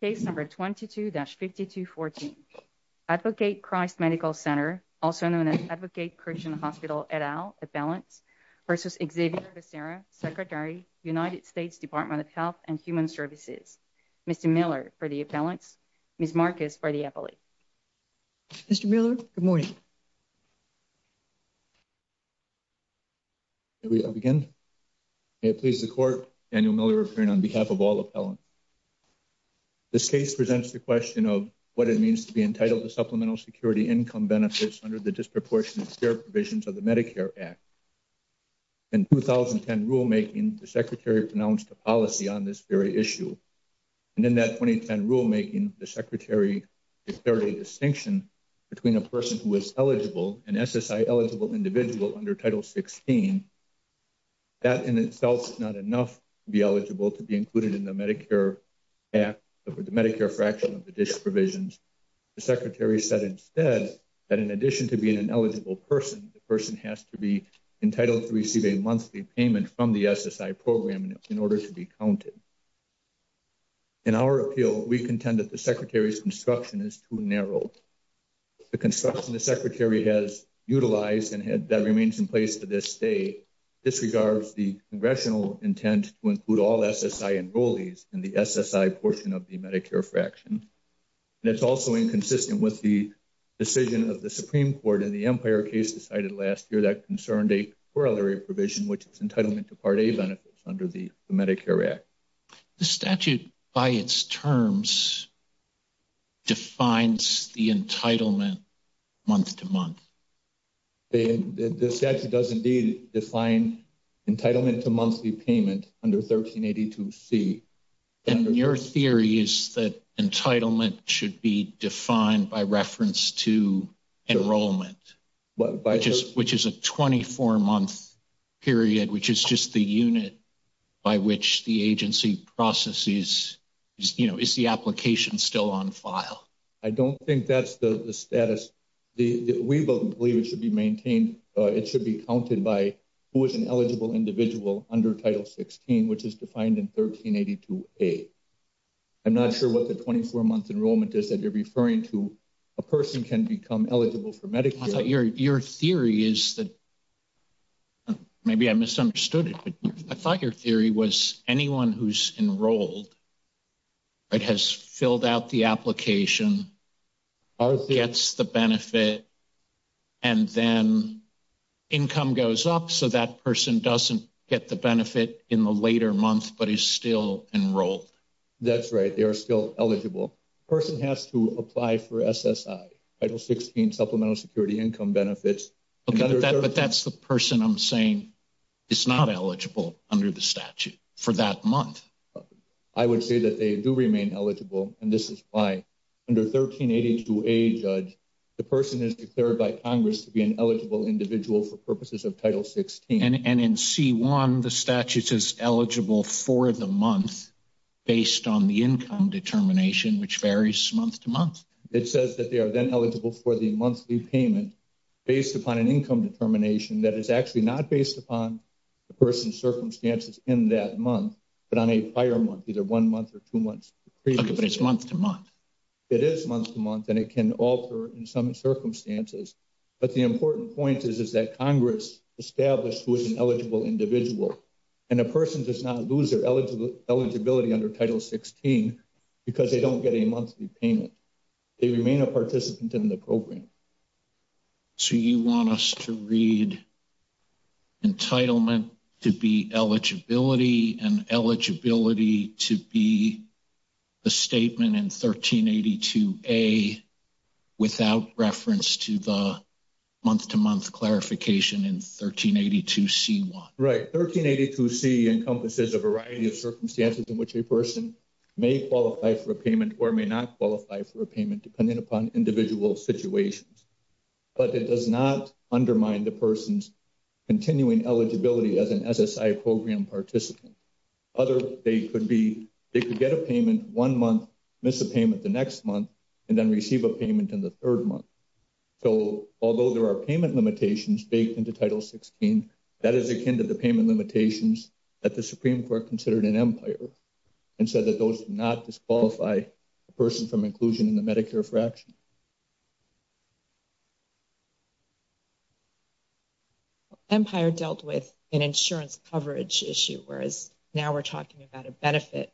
Case number 22-5214. Advocate Christ Medical Center, also known as Advocate Christian Hospital et al, appellants, versus Xavier Becerra, Secretary, United States Department of Health and Human Services. Mr. Miller for the appellants. Ms. Marcus for the appellate. Mr. Miller, good morning. May we begin? May it please the Court, Daniel Miller appearing on behalf of all appellants. This case presents the question of what it means to be entitled to Supplemental Security Income Benefits under the Disproportionate Care Provisions of the Medicare Act. In 2010 rulemaking, the Secretary pronounced a policy on this very issue. And in that 2010 rulemaking, the Secretary declared a distinction between a person who is eligible, an SSI-eligible individual under Title 16. That in itself is not enough to be in the Medicare Act, the Medicare fraction of the DISH provisions. The Secretary said instead that in addition to being an eligible person, the person has to be entitled to receive a monthly payment from the SSI program in order to be counted. In our appeal, we contend that the Secretary's construction is too narrow. The construction the Secretary has utilized and disregards the congressional intent to include all SSI enrollees in the SSI portion of the Medicare fraction. And it's also inconsistent with the decision of the Supreme Court in the Empire case decided last year that concerned a corollary provision, which is entitlement to Part A benefits under the Medicare Act. The statute by its terms defines the entitlement month-to-month. The statute does indeed define entitlement to monthly payment under 1382C. And your theory is that entitlement should be defined by reference to enrollment, which is a 24-month period, which is just the unit by which the agency processes, is the application still on file? I don't think that's the status. We believe it should be maintained. It should be counted by who is an eligible individual under Title 16, which is defined in 1382A. I'm not sure what the 24-month enrollment is that you're referring to. A person can become eligible for Medicare. Your theory is that, maybe I misunderstood it, but I thought your theory was anyone who's enrolled, has filled out the application, gets the benefit, and then income goes up, so that person doesn't get the benefit in the later month, but is still enrolled. That's right. They are still eligible. A person has to apply for SSI, Title 16, Supplemental Security Income Benefits. Okay, but that's the person I'm saying is not eligible under the statute for that month. I would say that they do remain eligible, and this is why under 1382A, Judge, the person is declared by Congress to be an eligible individual for purposes of Title 16. And in C-1, the statute is eligible for the month based on the income determination, which varies month to month. It says that they are then eligible for the monthly payment based upon an income determination that is actually not based upon the person's circumstances in that month, but on a prior month, either one month or two months. Okay, but it's month to month. It is month to month, and it can alter in some circumstances, but the important point is that Congress established who is an eligible individual, and a person does not lose their eligibility under Title 16 because they don't get a monthly payment. They remain a participant in the program. So you want us to read entitlement to be eligibility and eligibility to be a statement in 1382A without reference to the month to month clarification in 1382C-1? Right. 1382C encompasses a variety of circumstances in which a person may qualify for a payment or may not qualify for a payment depending upon individual situations. But it does not undermine the person's continuing eligibility as an SSI program participant. Other, they could be, they could get a payment one month, miss a payment the next month, and then receive a payment in the third month. So although there are payment limitations baked into Title 16, that is akin to the payment limitations that the Supreme Court considered in Empire and said that those do not disqualify a person from inclusion in the Medicare fraction. Empire dealt with an insurance coverage issue, whereas now we're talking about a benefit,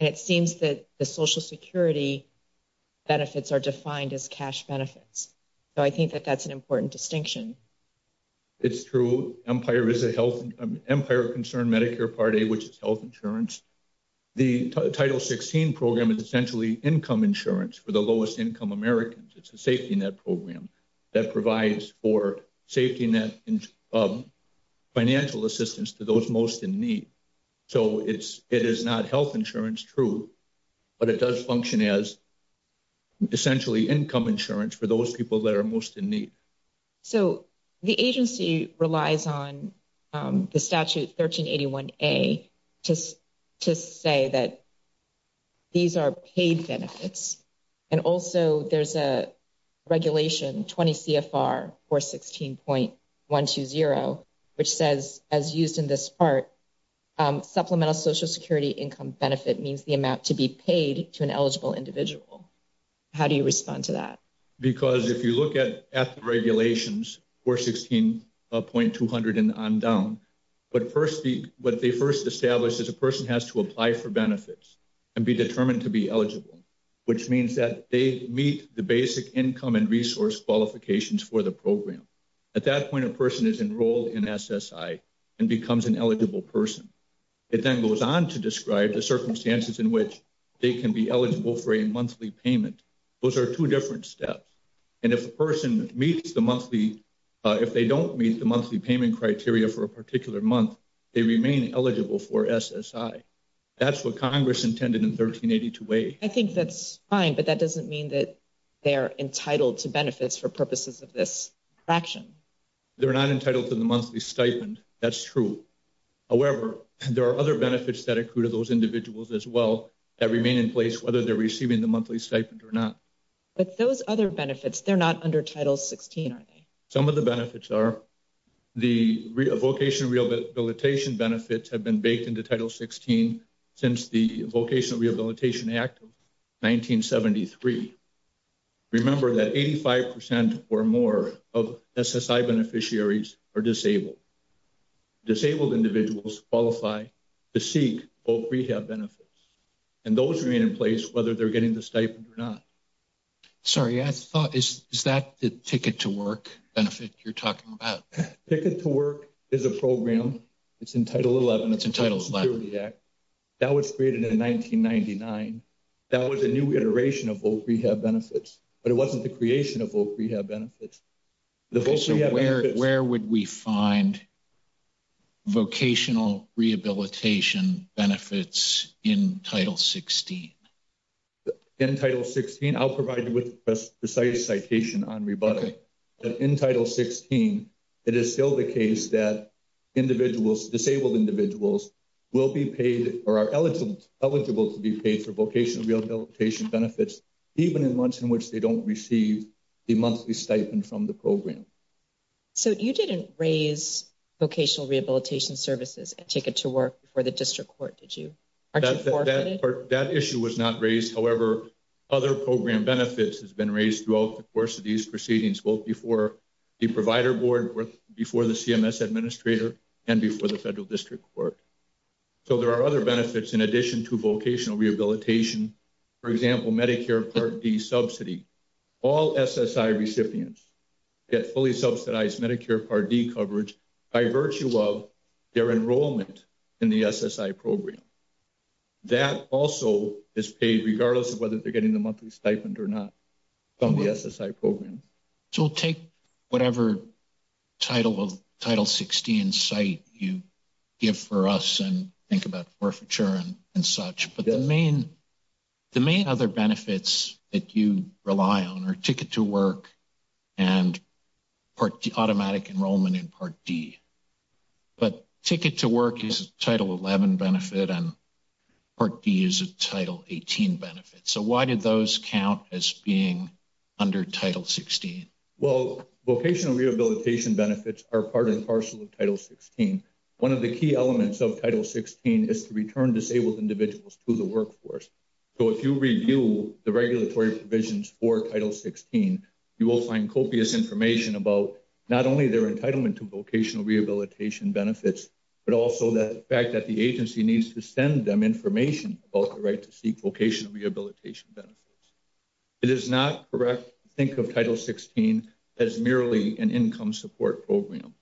and it seems that the Social Security benefits are defined as cash benefits. So I think that that's an important distinction. It's true. Empire is a health, Empire-concerned Medicare Part A, which is health insurance. The Title 16 program is essentially income insurance for the lowest income Americans. It's a safety net program that provides for safety net and financial assistance to those most in need. So it's, it is not health insurance, true, but it does function as essentially income insurance for those people that are most in need. So the agency relies on the statute 1381A to say that these are paid benefits. And also there's a regulation, 20 CFR 416.120, which says, as used in this part, supplemental Social Security income benefit means the amount to be paid to an eligible individual. How do you respond to that? Because if you look at the regulations, 416.200 and on down, but first, what they first established is a person has to apply for benefits and be determined to be eligible, which means that they meet the basic income and resource qualifications for the program. At that point, a person is enrolled in SSI and becomes an eligible person. It then goes on to describe the circumstances in which they can be eligible for a monthly payment. Those are two different steps. And if the person meets the monthly, if they don't meet the monthly payment criteria for a particular month, they remain eligible for SSI. That's what Congress intended in 1382A. I think that's fine, but that doesn't mean that they're entitled to benefits for purposes of this action. They're not entitled to the monthly stipend. That's true. However, there are other benefits that accrue to those individuals as well that remain in place, whether they're receiving the monthly stipend or not. But those other benefits, they're not under Title 16, are they? Some of the benefits are the vocational rehabilitation benefits have been baked into Title 16 since the Vocational Rehabilitation Act of 1973. Remember that 85% or more of SSI beneficiaries are disabled. Disabled individuals qualify to seek voc rehab benefits, and those remain in place whether they're getting the stipend or not. Sorry, I thought, is that the Ticket to Work benefit you're talking about? Ticket to Work is a program. It's in Title 11. It's in Title 11. That was created in 1999. That was a new iteration of voc rehab benefits, but it wasn't the creation of voc rehab benefits. Where would we find vocational rehabilitation benefits in Title 16? In Title 16, I'll provide you with a precise citation on rebuttal. In Title 16, it is still the case that disabled individuals will be paid or are eligible to be paid for vocational rehabilitation benefits even in months in which they don't receive a monthly stipend from the program. So you didn't raise vocational rehabilitation services and Ticket to Work before the District Court, did you? That issue was not raised. However, other program benefits have been raised throughout the course of these proceedings, both before the Provider Board, before the CMS Administrator, and before the Federal District Court. So there are other benefits. For example, Medicare Part D subsidy. All SSI recipients get fully subsidized Medicare Part D coverage by virtue of their enrollment in the SSI program. That also is paid regardless of whether they're getting the monthly stipend or not from the SSI program. So we'll take whatever Title 16 cite you give for us and think about forfeiture and such. But the main other benefits that you rely on are Ticket to Work and automatic enrollment in Part D. But Ticket to Work is a Title 11 benefit and Part D is a Title 18 benefit. So why did those count as being under Title 16? Well, vocational rehabilitation benefits are part and parcel of Title 16. One of the key elements of Title 16 is to return disabled individuals to the workforce. So if you review the regulatory provisions for Title 16, you will find copious information about not only their entitlement to vocational rehabilitation benefits, but also the fact that the agency needs to send them information about the right to seek vocational rehabilitation benefits. It is not correct to think of Title 16 as merely an income support program.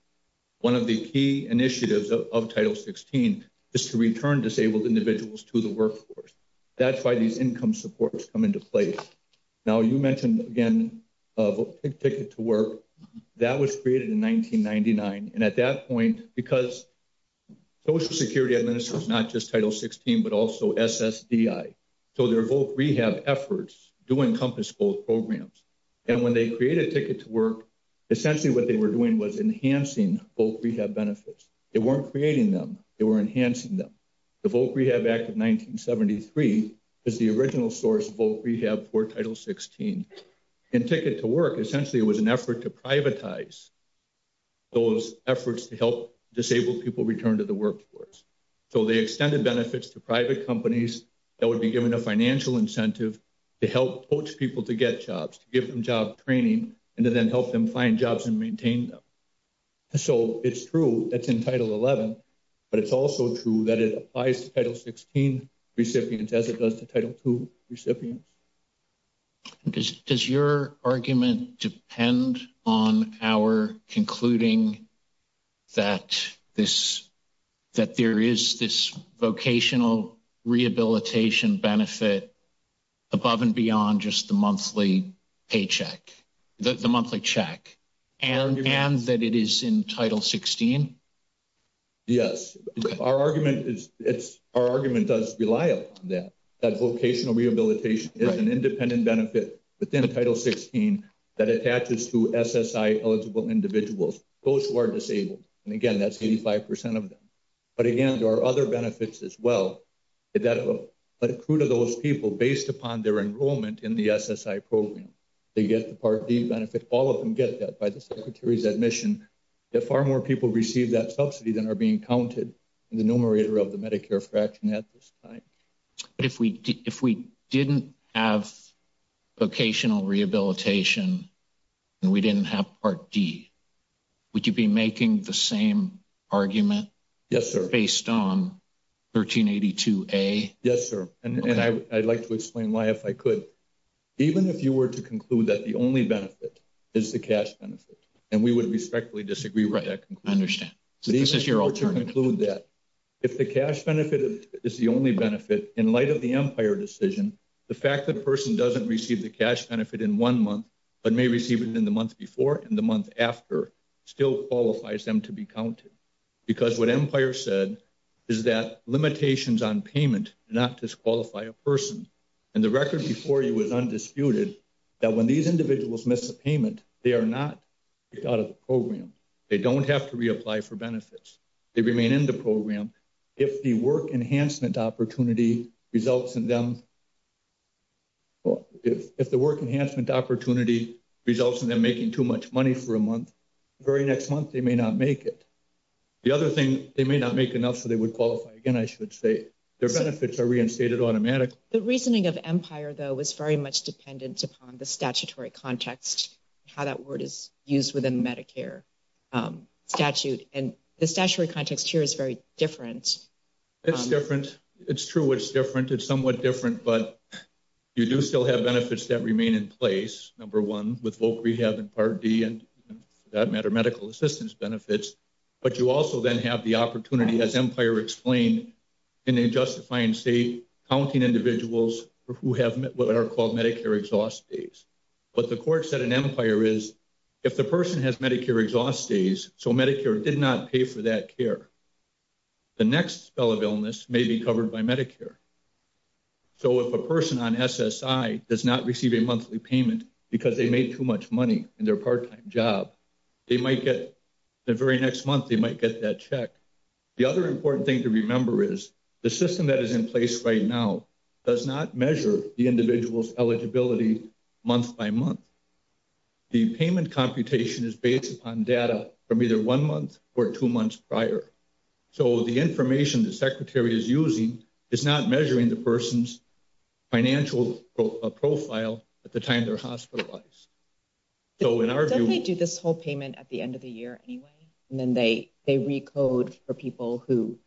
One of the key initiatives of Title 16 is to return disabled individuals to the workforce. That's why these income supports come into place. Now, you mentioned again of Ticket to Work. That was created in 1999. And at that point, because Social Security administrators, not just Title 16, but also SSDI. So their voc rehab efforts do encompass both programs. And when they create Ticket to Work, essentially what they were doing was enhancing voc rehab benefits. They weren't creating them, they were enhancing them. The Voc Rehab Act of 1973 is the original source of voc rehab for Title 16. In Ticket to Work, essentially it was an effort to privatize those efforts to help disabled people return to the workforce. So they extended benefits to private companies that would be given a financial incentive to help coach people to get jobs, to give them training, and to then help them find jobs and maintain them. So it's true that's in Title 11, but it's also true that it applies to Title 16 recipients as it does to Title 2 recipients. Does your argument depend on our concluding that there is this vocational rehabilitation benefit above and beyond just the monthly paycheck, the monthly check, and that it is in Title 16? Yes. Our argument does rely upon that, that vocational rehabilitation is an independent benefit within Title 16 that attaches to SSI eligible individuals, those who are disabled. Again, that's 85% of them. But again, there are other benefits as well that accrue to those people based upon their enrollment in the SSI program. They get the Part D benefit. All of them get that by the Secretary's admission. Far more people receive that subsidy than are being counted in the numerator of the Medicare fraction at this time. But if we didn't have vocational rehabilitation, and we didn't have Part D, would you be making the same argument based on 1382A? Yes, sir. And I'd like to explain why, if I could. Even if you were to conclude that the only benefit is the cash benefit, and we would respectfully disagree with that conclusion. I understand. So this is your alternative. Even if you were to conclude that if the cash benefit is the only benefit, in light of the in one month, but may receive it in the month before and the month after, still qualifies them to be counted. Because what Empire said is that limitations on payment do not disqualify a person. And the record before you is undisputed, that when these individuals miss a payment, they are not kicked out of the program. They don't have to reapply for benefits. They remain in the program. If the work enhancement opportunity results in them, making too much money for a month, the very next month, they may not make it. The other thing, they may not make enough so they would qualify. Again, I should say, their benefits are reinstated automatically. The reasoning of Empire, though, was very much dependent upon the statutory context, how that word is used within the Medicare statute. And the statutory context here is very different. It's different. It's true, it's different. It's somewhat different from what we're used to. But you do still have benefits that remain in place, number one, with Voc Rehab and Part D, and for that matter, medical assistance benefits. But you also then have the opportunity, as Empire explained, in a justifying state, counting individuals who have what are called Medicare exhaust days. But the court said in Empire is, if the person has Medicare exhaust days, so Medicare did not pay for that care, the next spell of illness may be covered by Medicare. So if a person on SSI does not receive a monthly payment because they made too much money in their part-time job, they might get, the very next month, they might get that check. The other important thing to remember is the system that is in place right now does not measure the individual's eligibility month by month. The payment computation is based upon data from either one month or two months prior. So the information the Secretary is using is not based measuring the person's financial profile at the time they're hospitalized. So in our view- They definitely do this whole payment at the end of the year anyway, and then they recode for people who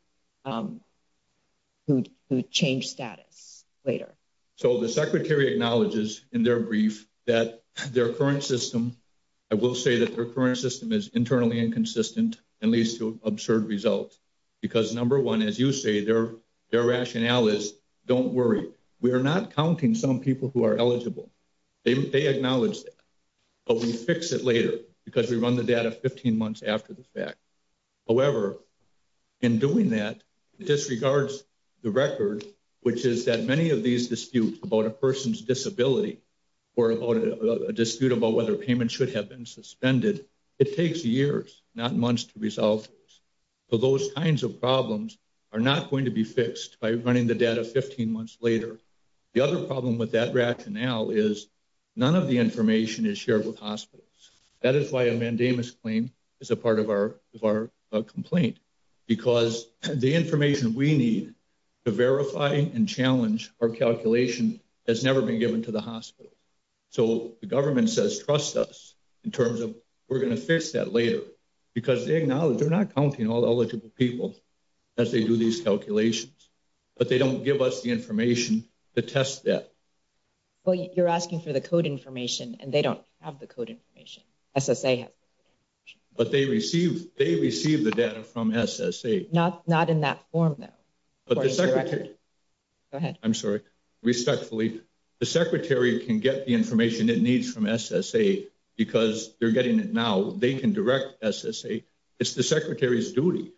change status later. So the Secretary acknowledges in their brief that their current system, I will say that their current system is internally inconsistent and leads to absurd results because number one, as you say, their rationale is don't worry. We are not counting some people who are eligible. They acknowledge that. But we fix it later because we run the data 15 months after the fact. However, in doing that, it disregards the record, which is that many of these disputes about a person's disability or about a dispute about whether payment should have been suspended. It takes years, not months to resolve those kinds of problems are not going to be fixed by running the data 15 months later. The other problem with that rationale is none of the information is shared with hospitals. That is why a mandamus claim is a part of our complaint because the information we need to verify and challenge our calculation has never been given to the hospital. So the government says trust us in terms of we're going to fix that later because they acknowledge they're not counting all eligible people as they do these calculations, but they don't give us the information to test that. Well, you're asking for the code information and they don't have the code information. SSA has. But they receive they receive the data from SSA. Not not in that form, though. But the secretary. Go ahead. I'm sorry. Respectfully, the secretary can get the information it needs from SSA because they're getting it now. They can direct SSA. It's the secretary's duty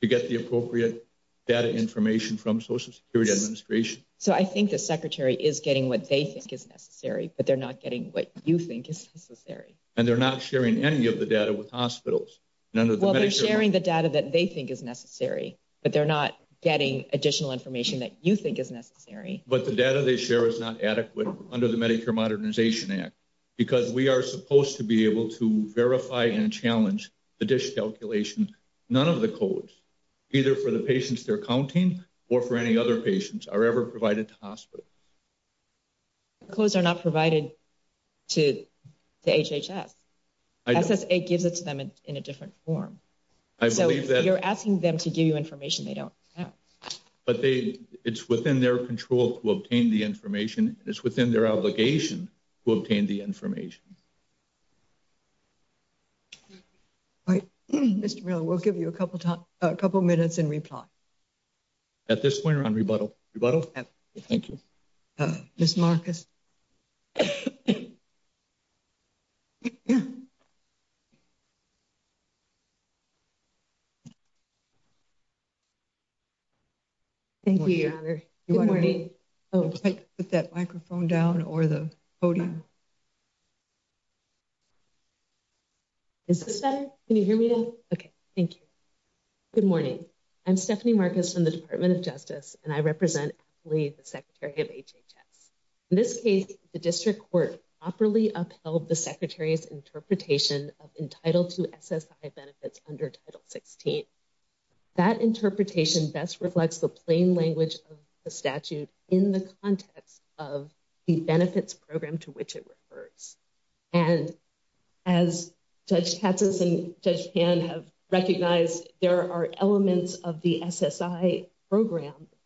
to get the appropriate data information from Social Security Administration. So I think the secretary is getting what they think is necessary, but they're not getting what you think is necessary. And they're not sharing any of the data with But they're not getting additional information that you think is necessary. But the data they share is not adequate under the Medicare Modernization Act because we are supposed to be able to verify and challenge the dish calculation. None of the codes, either for the patients they're counting or for any other patients are ever provided to hospital. Clothes are not provided to the HHS. SSA gives it to them in a different form. I believe that you're asking them to give you information they don't. But they it's within their control to obtain the information. It's within their obligation to obtain the information. All right, Mr. Miller, we'll give you a couple of time, a couple of minutes and reply. At this point on rebuttal, rebuttal. Thank you. Miss Marcus. Thank you, Your Honor. Good morning. Put that microphone down or the podium. Is this better? Can you hear me now? Okay, thank you. Good morning. I'm Stephanie Marcus from the Department of Justice, and I represent the Secretary of HHS. In this case, the district court properly upheld the Secretary's interpretation of entitled to SSI benefits under Title 16. That interpretation best reflects the plain language of the statute in the context of the benefits program to which it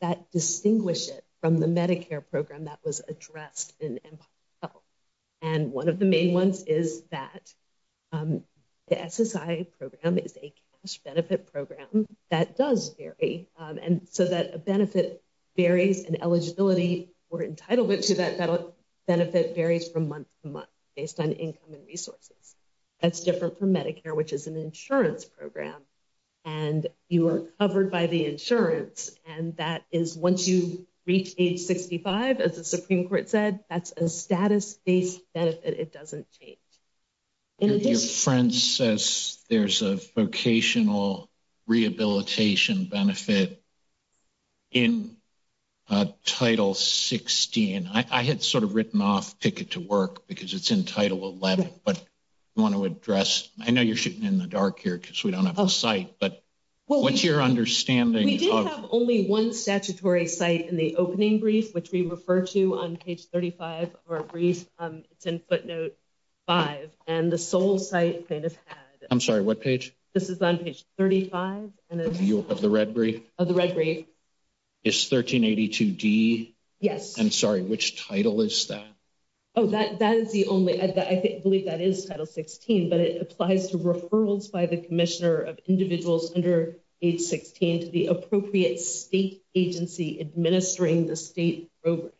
that distinguish it from the Medicare program that was addressed. And one of the main ones is that the SSI program is a cash benefit program that does vary. And so that a benefit varies and eligibility or entitlement to that benefit varies from month to month based on income and resources. That's different from Medicare, which is an insurance program. And you are covered by the insurance. And that is once you reach age 65, as the Supreme Court said, that's a status based benefit. It doesn't change. Your friend says there's a vocational rehabilitation benefit in Title 16. I had sort of written off ticket to work because it's in Title 11. But I want to address I know you're in the dark here because we don't have a site. But what's your understanding? We do have only one statutory site in the opening brief, which we refer to on page 35 of our brief. It's in footnote five, and the sole site plaintiff had. I'm sorry, what page? This is on page 35. Of the red brief? Of the red brief. It's 1382 D? Yes. I'm sorry, which title is that? Oh, that that is the only I believe that is Title 16, but it applies to referrals by the commissioner of individuals under age 16 to the appropriate state agency administering the state program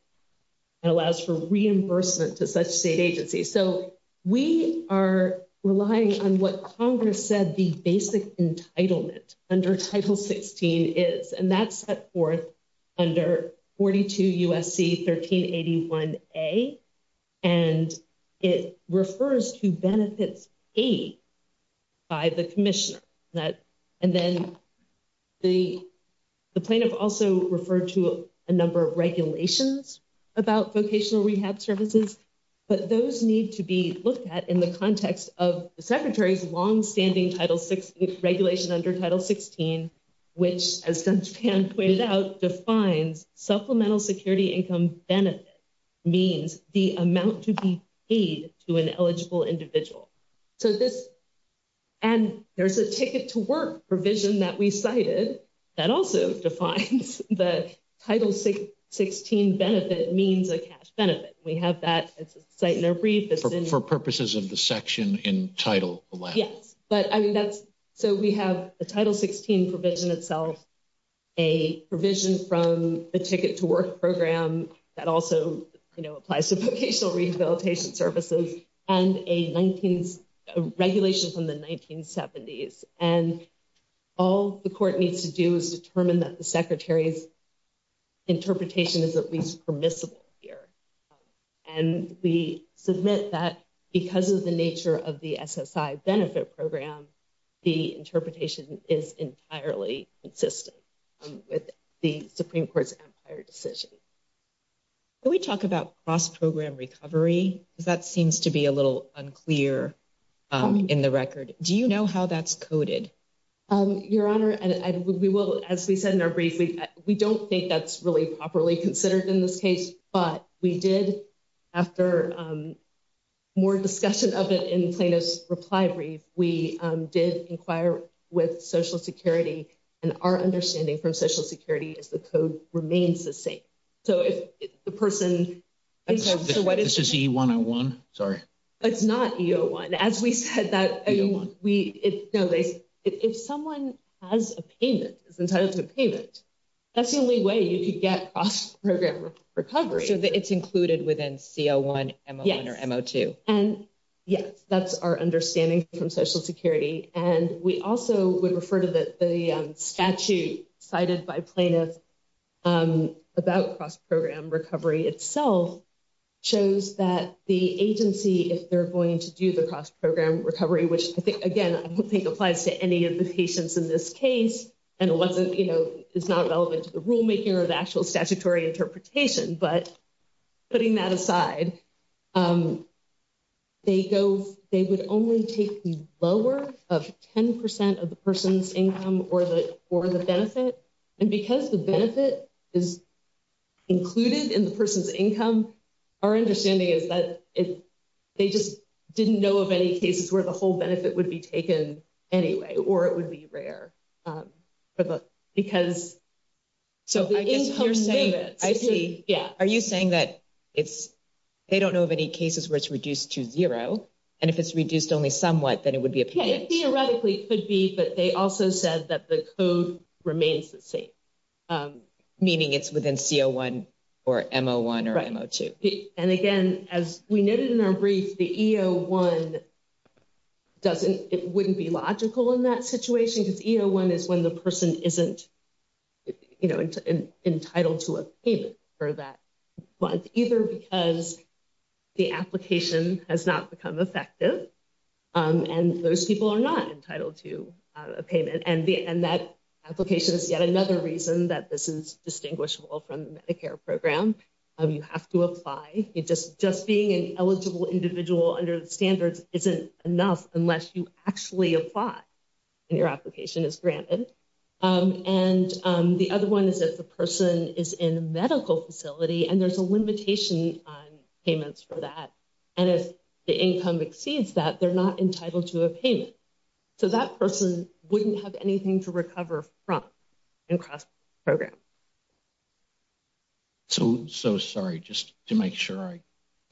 and allows for reimbursement to such state agencies. So we are relying on what Congress said the basic entitlement under Title 16 is, and that's set forth under 42 USC 1381 A. And it refers to benefits paid by the commissioner that and then the plaintiff also referred to a number of regulations about vocational rehab services, but those need to be looked at in context of the secretary's longstanding Title 16 regulation under Title 16, which has been pointed out defines supplemental security income benefit means the amount to be paid to an eligible individual. So this and there's a ticket to work provision that we cited that also defines the Title 16 benefit means a cash benefit. We have that site in a brief for purposes of the section in title. Yes, but I mean, that's so we have the Title 16 provision itself. A provision from the ticket to work program that also applies to vocational rehabilitation services and a 19th regulation from the 1970s and all the court needs to do is determine that secretary's interpretation is at least permissible here. And we submit that because of the nature of the SSI benefit program, the interpretation is entirely consistent with the Supreme Court's Empire decision. Can we talk about cross program recovery? That seems to be a little unclear in the record. Do you know how that's coded? Your Honor, and we will, as we said in our brief, we don't think that's really properly considered in this case, but we did after more discussion of it in plaintiff's reply brief, we did inquire with Social Security and our understanding from Social Security is the code remains the same. So if the person. This is E-101, sorry. It's not E-01. As we said that, if someone has a payment, is entitled to a payment, that's the only way you could get cross program recovery. So it's included within C-01, M-01 or M-02. And yes, that's our understanding from Social Security. And we also would refer to the statute cited by plaintiffs about cross program recovery itself shows that the agency, if they're going to do the cross program recovery, which I think, again, I don't think applies to any of the patients in this case. And it wasn't, you know, it's not relevant to the rulemaking or the actual statutory interpretation. But putting that aside, they go, they would only take the lower of 10% of the person's income or the benefit. And because the benefit is included in the person's income, our understanding is that they just didn't know of any cases where the whole benefit would be taken anyway, or it would be rare. Because, so I guess you're saying that, I see, yeah. Are you saying that it's, they don't know of any cases where it's reduced to zero. And if it's reduced only somewhat, then it would be a payment. It theoretically could be, but they also said that the code remains the same. Meaning it's within CO1 or MO1 or MO2. And again, as we noted in our brief, the EO1 doesn't, it wouldn't be logical in that situation because EO1 is when the person isn't, you know, entitled to a payment for that month, either because the application has not become effective. And those people are not entitled to a payment and that application is yet another reason that this is distinguishable from the Medicare program. You have to apply. Just being an eligible individual under the standards isn't enough unless you actually apply and your application is granted. And the other one is if the person is in a medical facility and there's a limitation on payments for that. And if the income exceeds that, they're not entitled to a payment. So that person wouldn't have anything to recover from and across the program. So, so sorry, just to make sure I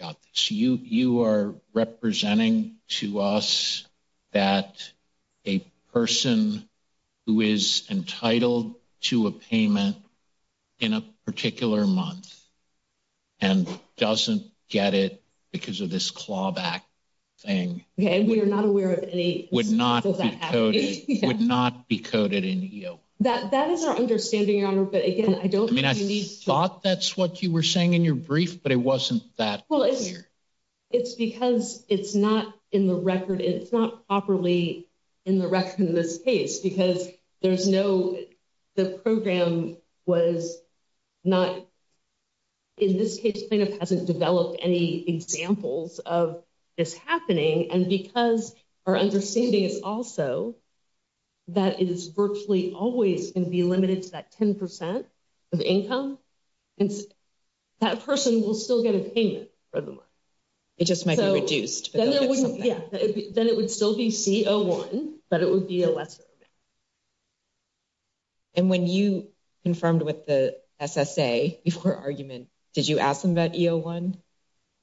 got this. You, you are representing to us that a person who is entitled to a payment in a particular month and doesn't get it because of this clawback thing. Okay. And we are not aware of any. Would not be coded, would not be coded in EO. That, that is our understanding, Your Honor. But again, I don't think you need to. I mean, I thought that's what you were saying in your brief, but it wasn't that clear. Well, it's because it's not in the record. It's not properly in the record in this case because there's no, the program was not, in this case, plaintiff hasn't developed any examples of this happening. And because our understanding is also that it is virtually always going to be limited to that 10% of income and that person will still get a payment for the month. It just might be reduced. Yeah, then it would still be CO1, but it would be a lesser amount. And when you confirmed with the SSA before argument, did you ask them about EO1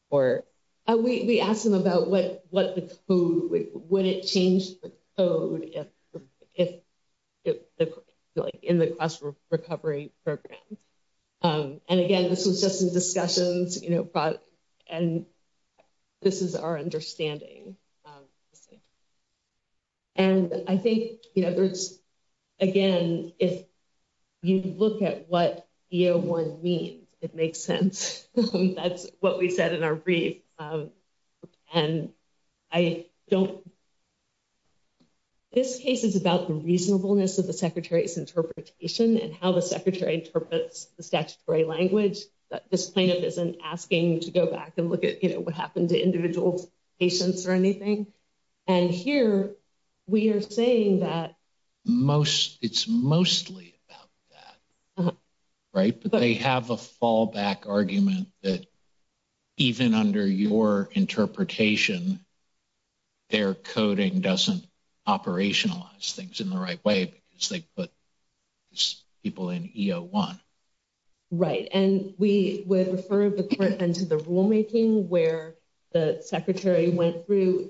or? We, we asked them about what, what the code, would it change the code if, if in the class recovery program. And again, this was just in discussions, you know, but, and this is our understanding. And I think, you know, there's, again, if you look at what EO1 means, it makes sense. That's what we said in our brief. And I don't, this case is about the reasonableness of the secretary's interpretation and how the secretary interprets the statutory language that this plaintiff isn't asking to go back and look at, you know, what happened to individual patients or anything. And here we are saying that. Most, it's mostly about that, right? But they have a fallback argument that even under your interpretation, their coding doesn't operationalize things in the right way because they put people in EO1. Right. And we would refer the court and to the rulemaking where the secretary went through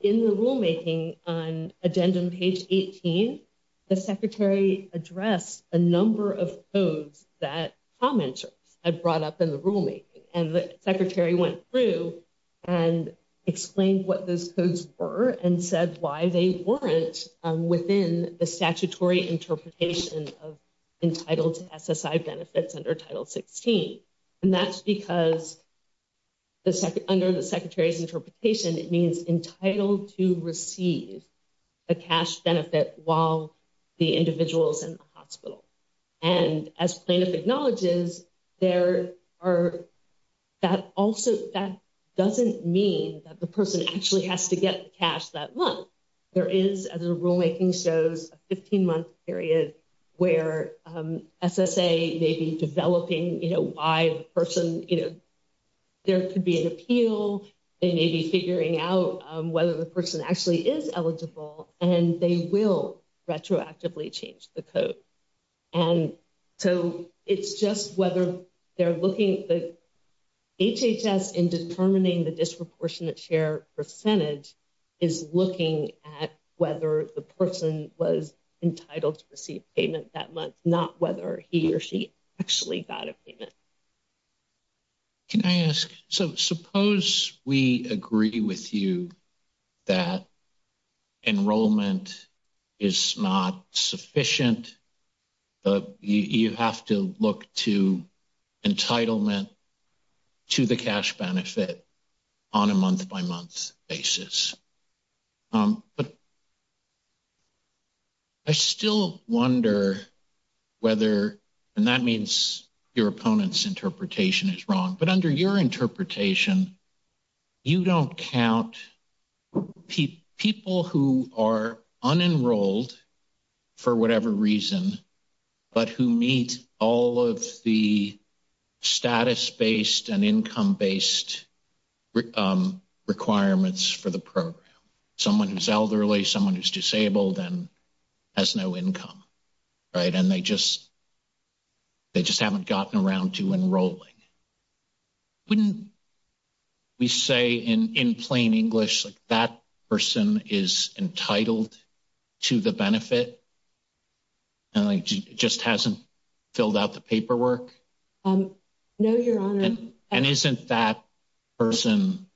in the rulemaking on addendum page 18, the secretary addressed a number of codes that commenters had brought up in the rulemaking and the secretary went through and explained what those codes were and said why they weren't within the statutory interpretation of entitled SSI benefits under Title 16. And that's because under the secretary's interpretation, it means entitled to receive a cash benefit while the individual is in the hospital. And as plaintiff acknowledges, there are, that also, that doesn't mean that the person actually has to get the cash that month. There is, as the rulemaking shows, a 15-month period where SSA may be developing, you know, why the person, you know, there could be an appeal, they may be figuring out whether the person actually is eligible, and they will retroactively change the code. And so it's just whether they're looking at the HHS in determining the disproportionate share percentage is looking at whether the person was entitled to receive payment that month, not whether he or she actually got a payment. Can I ask, so suppose we agree with you that enrollment is not sufficient, but you have to look to entitlement to the cash benefit on a month-by-month basis. But I still wonder whether, and that means your opponent's interpretation is wrong, but under your interpretation, you don't count people who are unenrolled for whatever reason, but who meet all of the status-based and income-based requirements for the program, someone who's elderly, someone who's disabled and has no income, right? And they just haven't gotten around to enrolling. Wouldn't we say in plain English, like, that person is entitled to the benefit, and it just hasn't filled out the paperwork? No, Your Honor. And isn't that person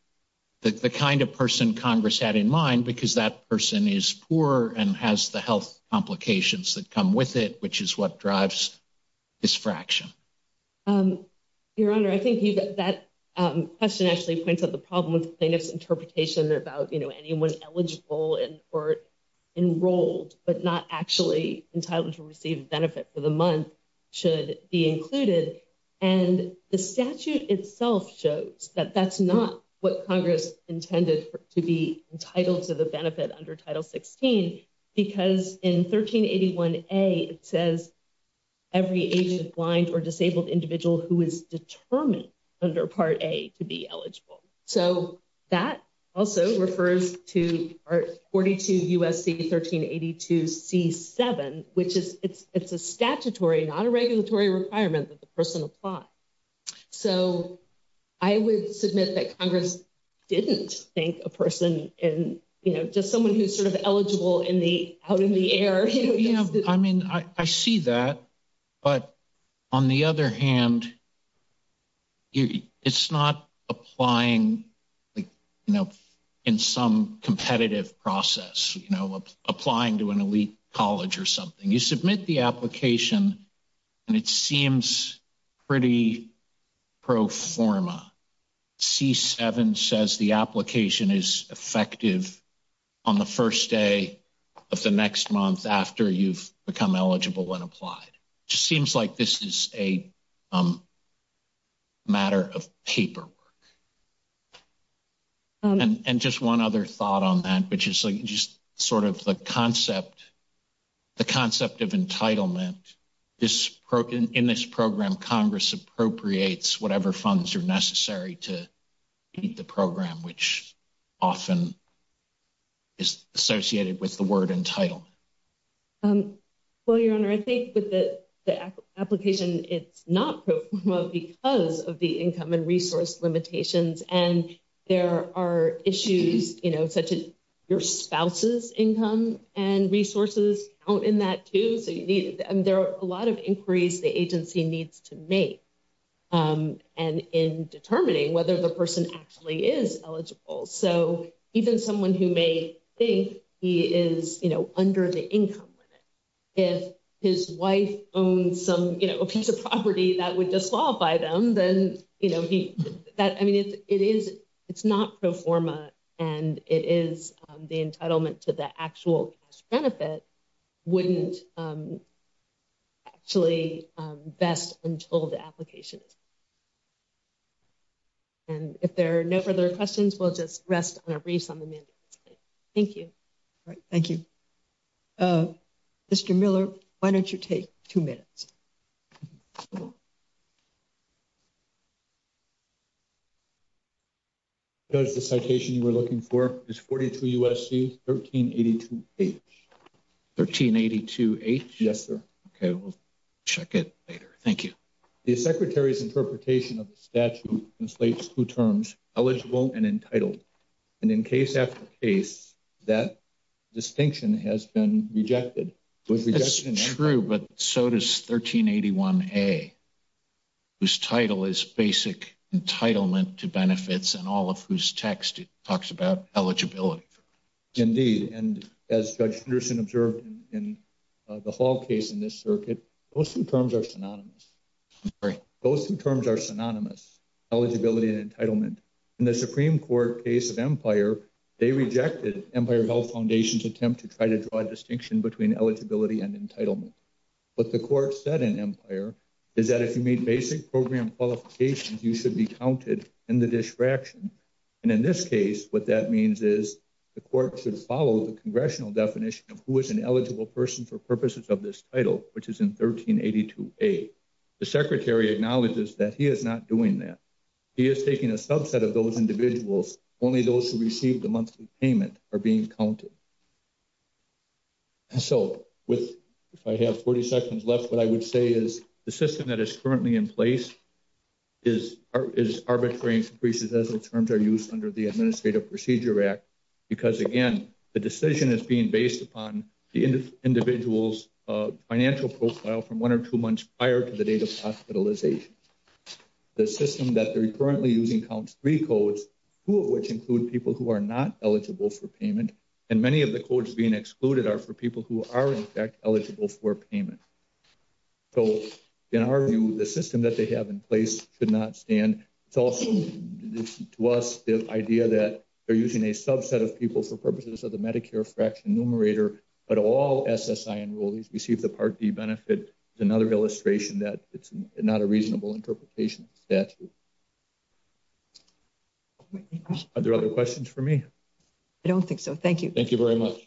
the kind of person Congress had in mind, because that person is poor and has the health complications that come with it, which is what drives this fraction? Um, Your Honor, I think that question actually points out the problem with plaintiff's interpretation about, you know, anyone eligible or enrolled but not actually entitled to receive the benefit for the month should be included. And the statute itself shows that that's not what Congress intended to be entitled to the who is determined under Part A to be eligible. So that also refers to Part 42 U.S.C. 1382 C.7, which is it's a statutory, not a regulatory requirement that the person apply. So I would submit that Congress didn't think a person in, you know, just someone who's sort of eligible in the out in the air. I mean, I see that. But on the other hand, it's not applying, you know, in some competitive process, you know, applying to an elite college or something. You submit the application, and it seems pretty pro forma. C.7 says the application is effective on the first day of the next month after you've become eligible and applied. Just seems like this is a matter of paperwork. And just one other thought on that, which is just sort of the concept, the concept of entitlement. This in this program, Congress appropriates whatever funds are necessary to meet the program, which often is associated with the word entitlement. Well, Your Honor, I think with the application, it's not because of the income and resource limitations. And there are issues, you know, such as your spouse's income and resources count in that too. And there are a lot of inquiries the agency needs to make and in determining whether the person actually is eligible. So even someone who may think he is, you know, under the income limit, if his wife owns some, you know, a piece of property that would disqualify them, then, you know, that I mean, it is it's not pro forma. And it is the entitlement to the actual cash benefit wouldn't actually vest until the application. And if there are no further questions, we'll just rest on a brief on the mandate. Thank you. All right. Thank you, Mr. Miller. Why don't you take two minutes? So the citation you were looking for is 42 U.S.C. 1382-H. 1382-H? Yes, sir. Okay. We'll check it later. Thank you. The Secretary's interpretation of the statute translates two terms, eligible and entitled. And in case after case, that distinction has been rejected. It's true, but so does 1381-A, whose title is basic entitlement to benefits and all of whose text talks about eligibility. Indeed. And as Judge Henderson observed in the Hall case in this circuit, those two terms are synonymous. Those two terms are synonymous, eligibility and entitlement. In the Supreme Court case of Empire, they rejected Empire Health Foundation's attempt to try to draw a distinction between eligibility and entitlement. What the court said in Empire is that if you meet basic program qualifications, you should be counted in the disfraction. And in this case, what that means is the court should follow the congressional definition of who is an eligible person for purposes of this title, which is in 1382-A. The Secretary acknowledges that he is not doing that. He is taking a subset of those individuals. Only those who receive the monthly payment are being counted. And so with, if I have 40 seconds left, what I would say is the system that is currently in place is arbitrating increases as the terms are used under the Administrative Procedure Act. Because again, the decision is being based upon the individual's financial profile from one or two months prior to the date of hospitalization. The system that they're currently using counts three codes, two of which include people who are not eligible for payment, and many of the codes being excluded are for people who are in fact eligible for payment. So in our view, the system that they have in place should not stand. It's also to us the idea that they're using a subset of people for purposes of the Medicare fraction numerator, but all SSI enrollees receive the Part D benefit. It's another illustration that it's not a reasonable interpretation of the statute. Are there other questions for me? I don't think so. Thank you. Thank you very much.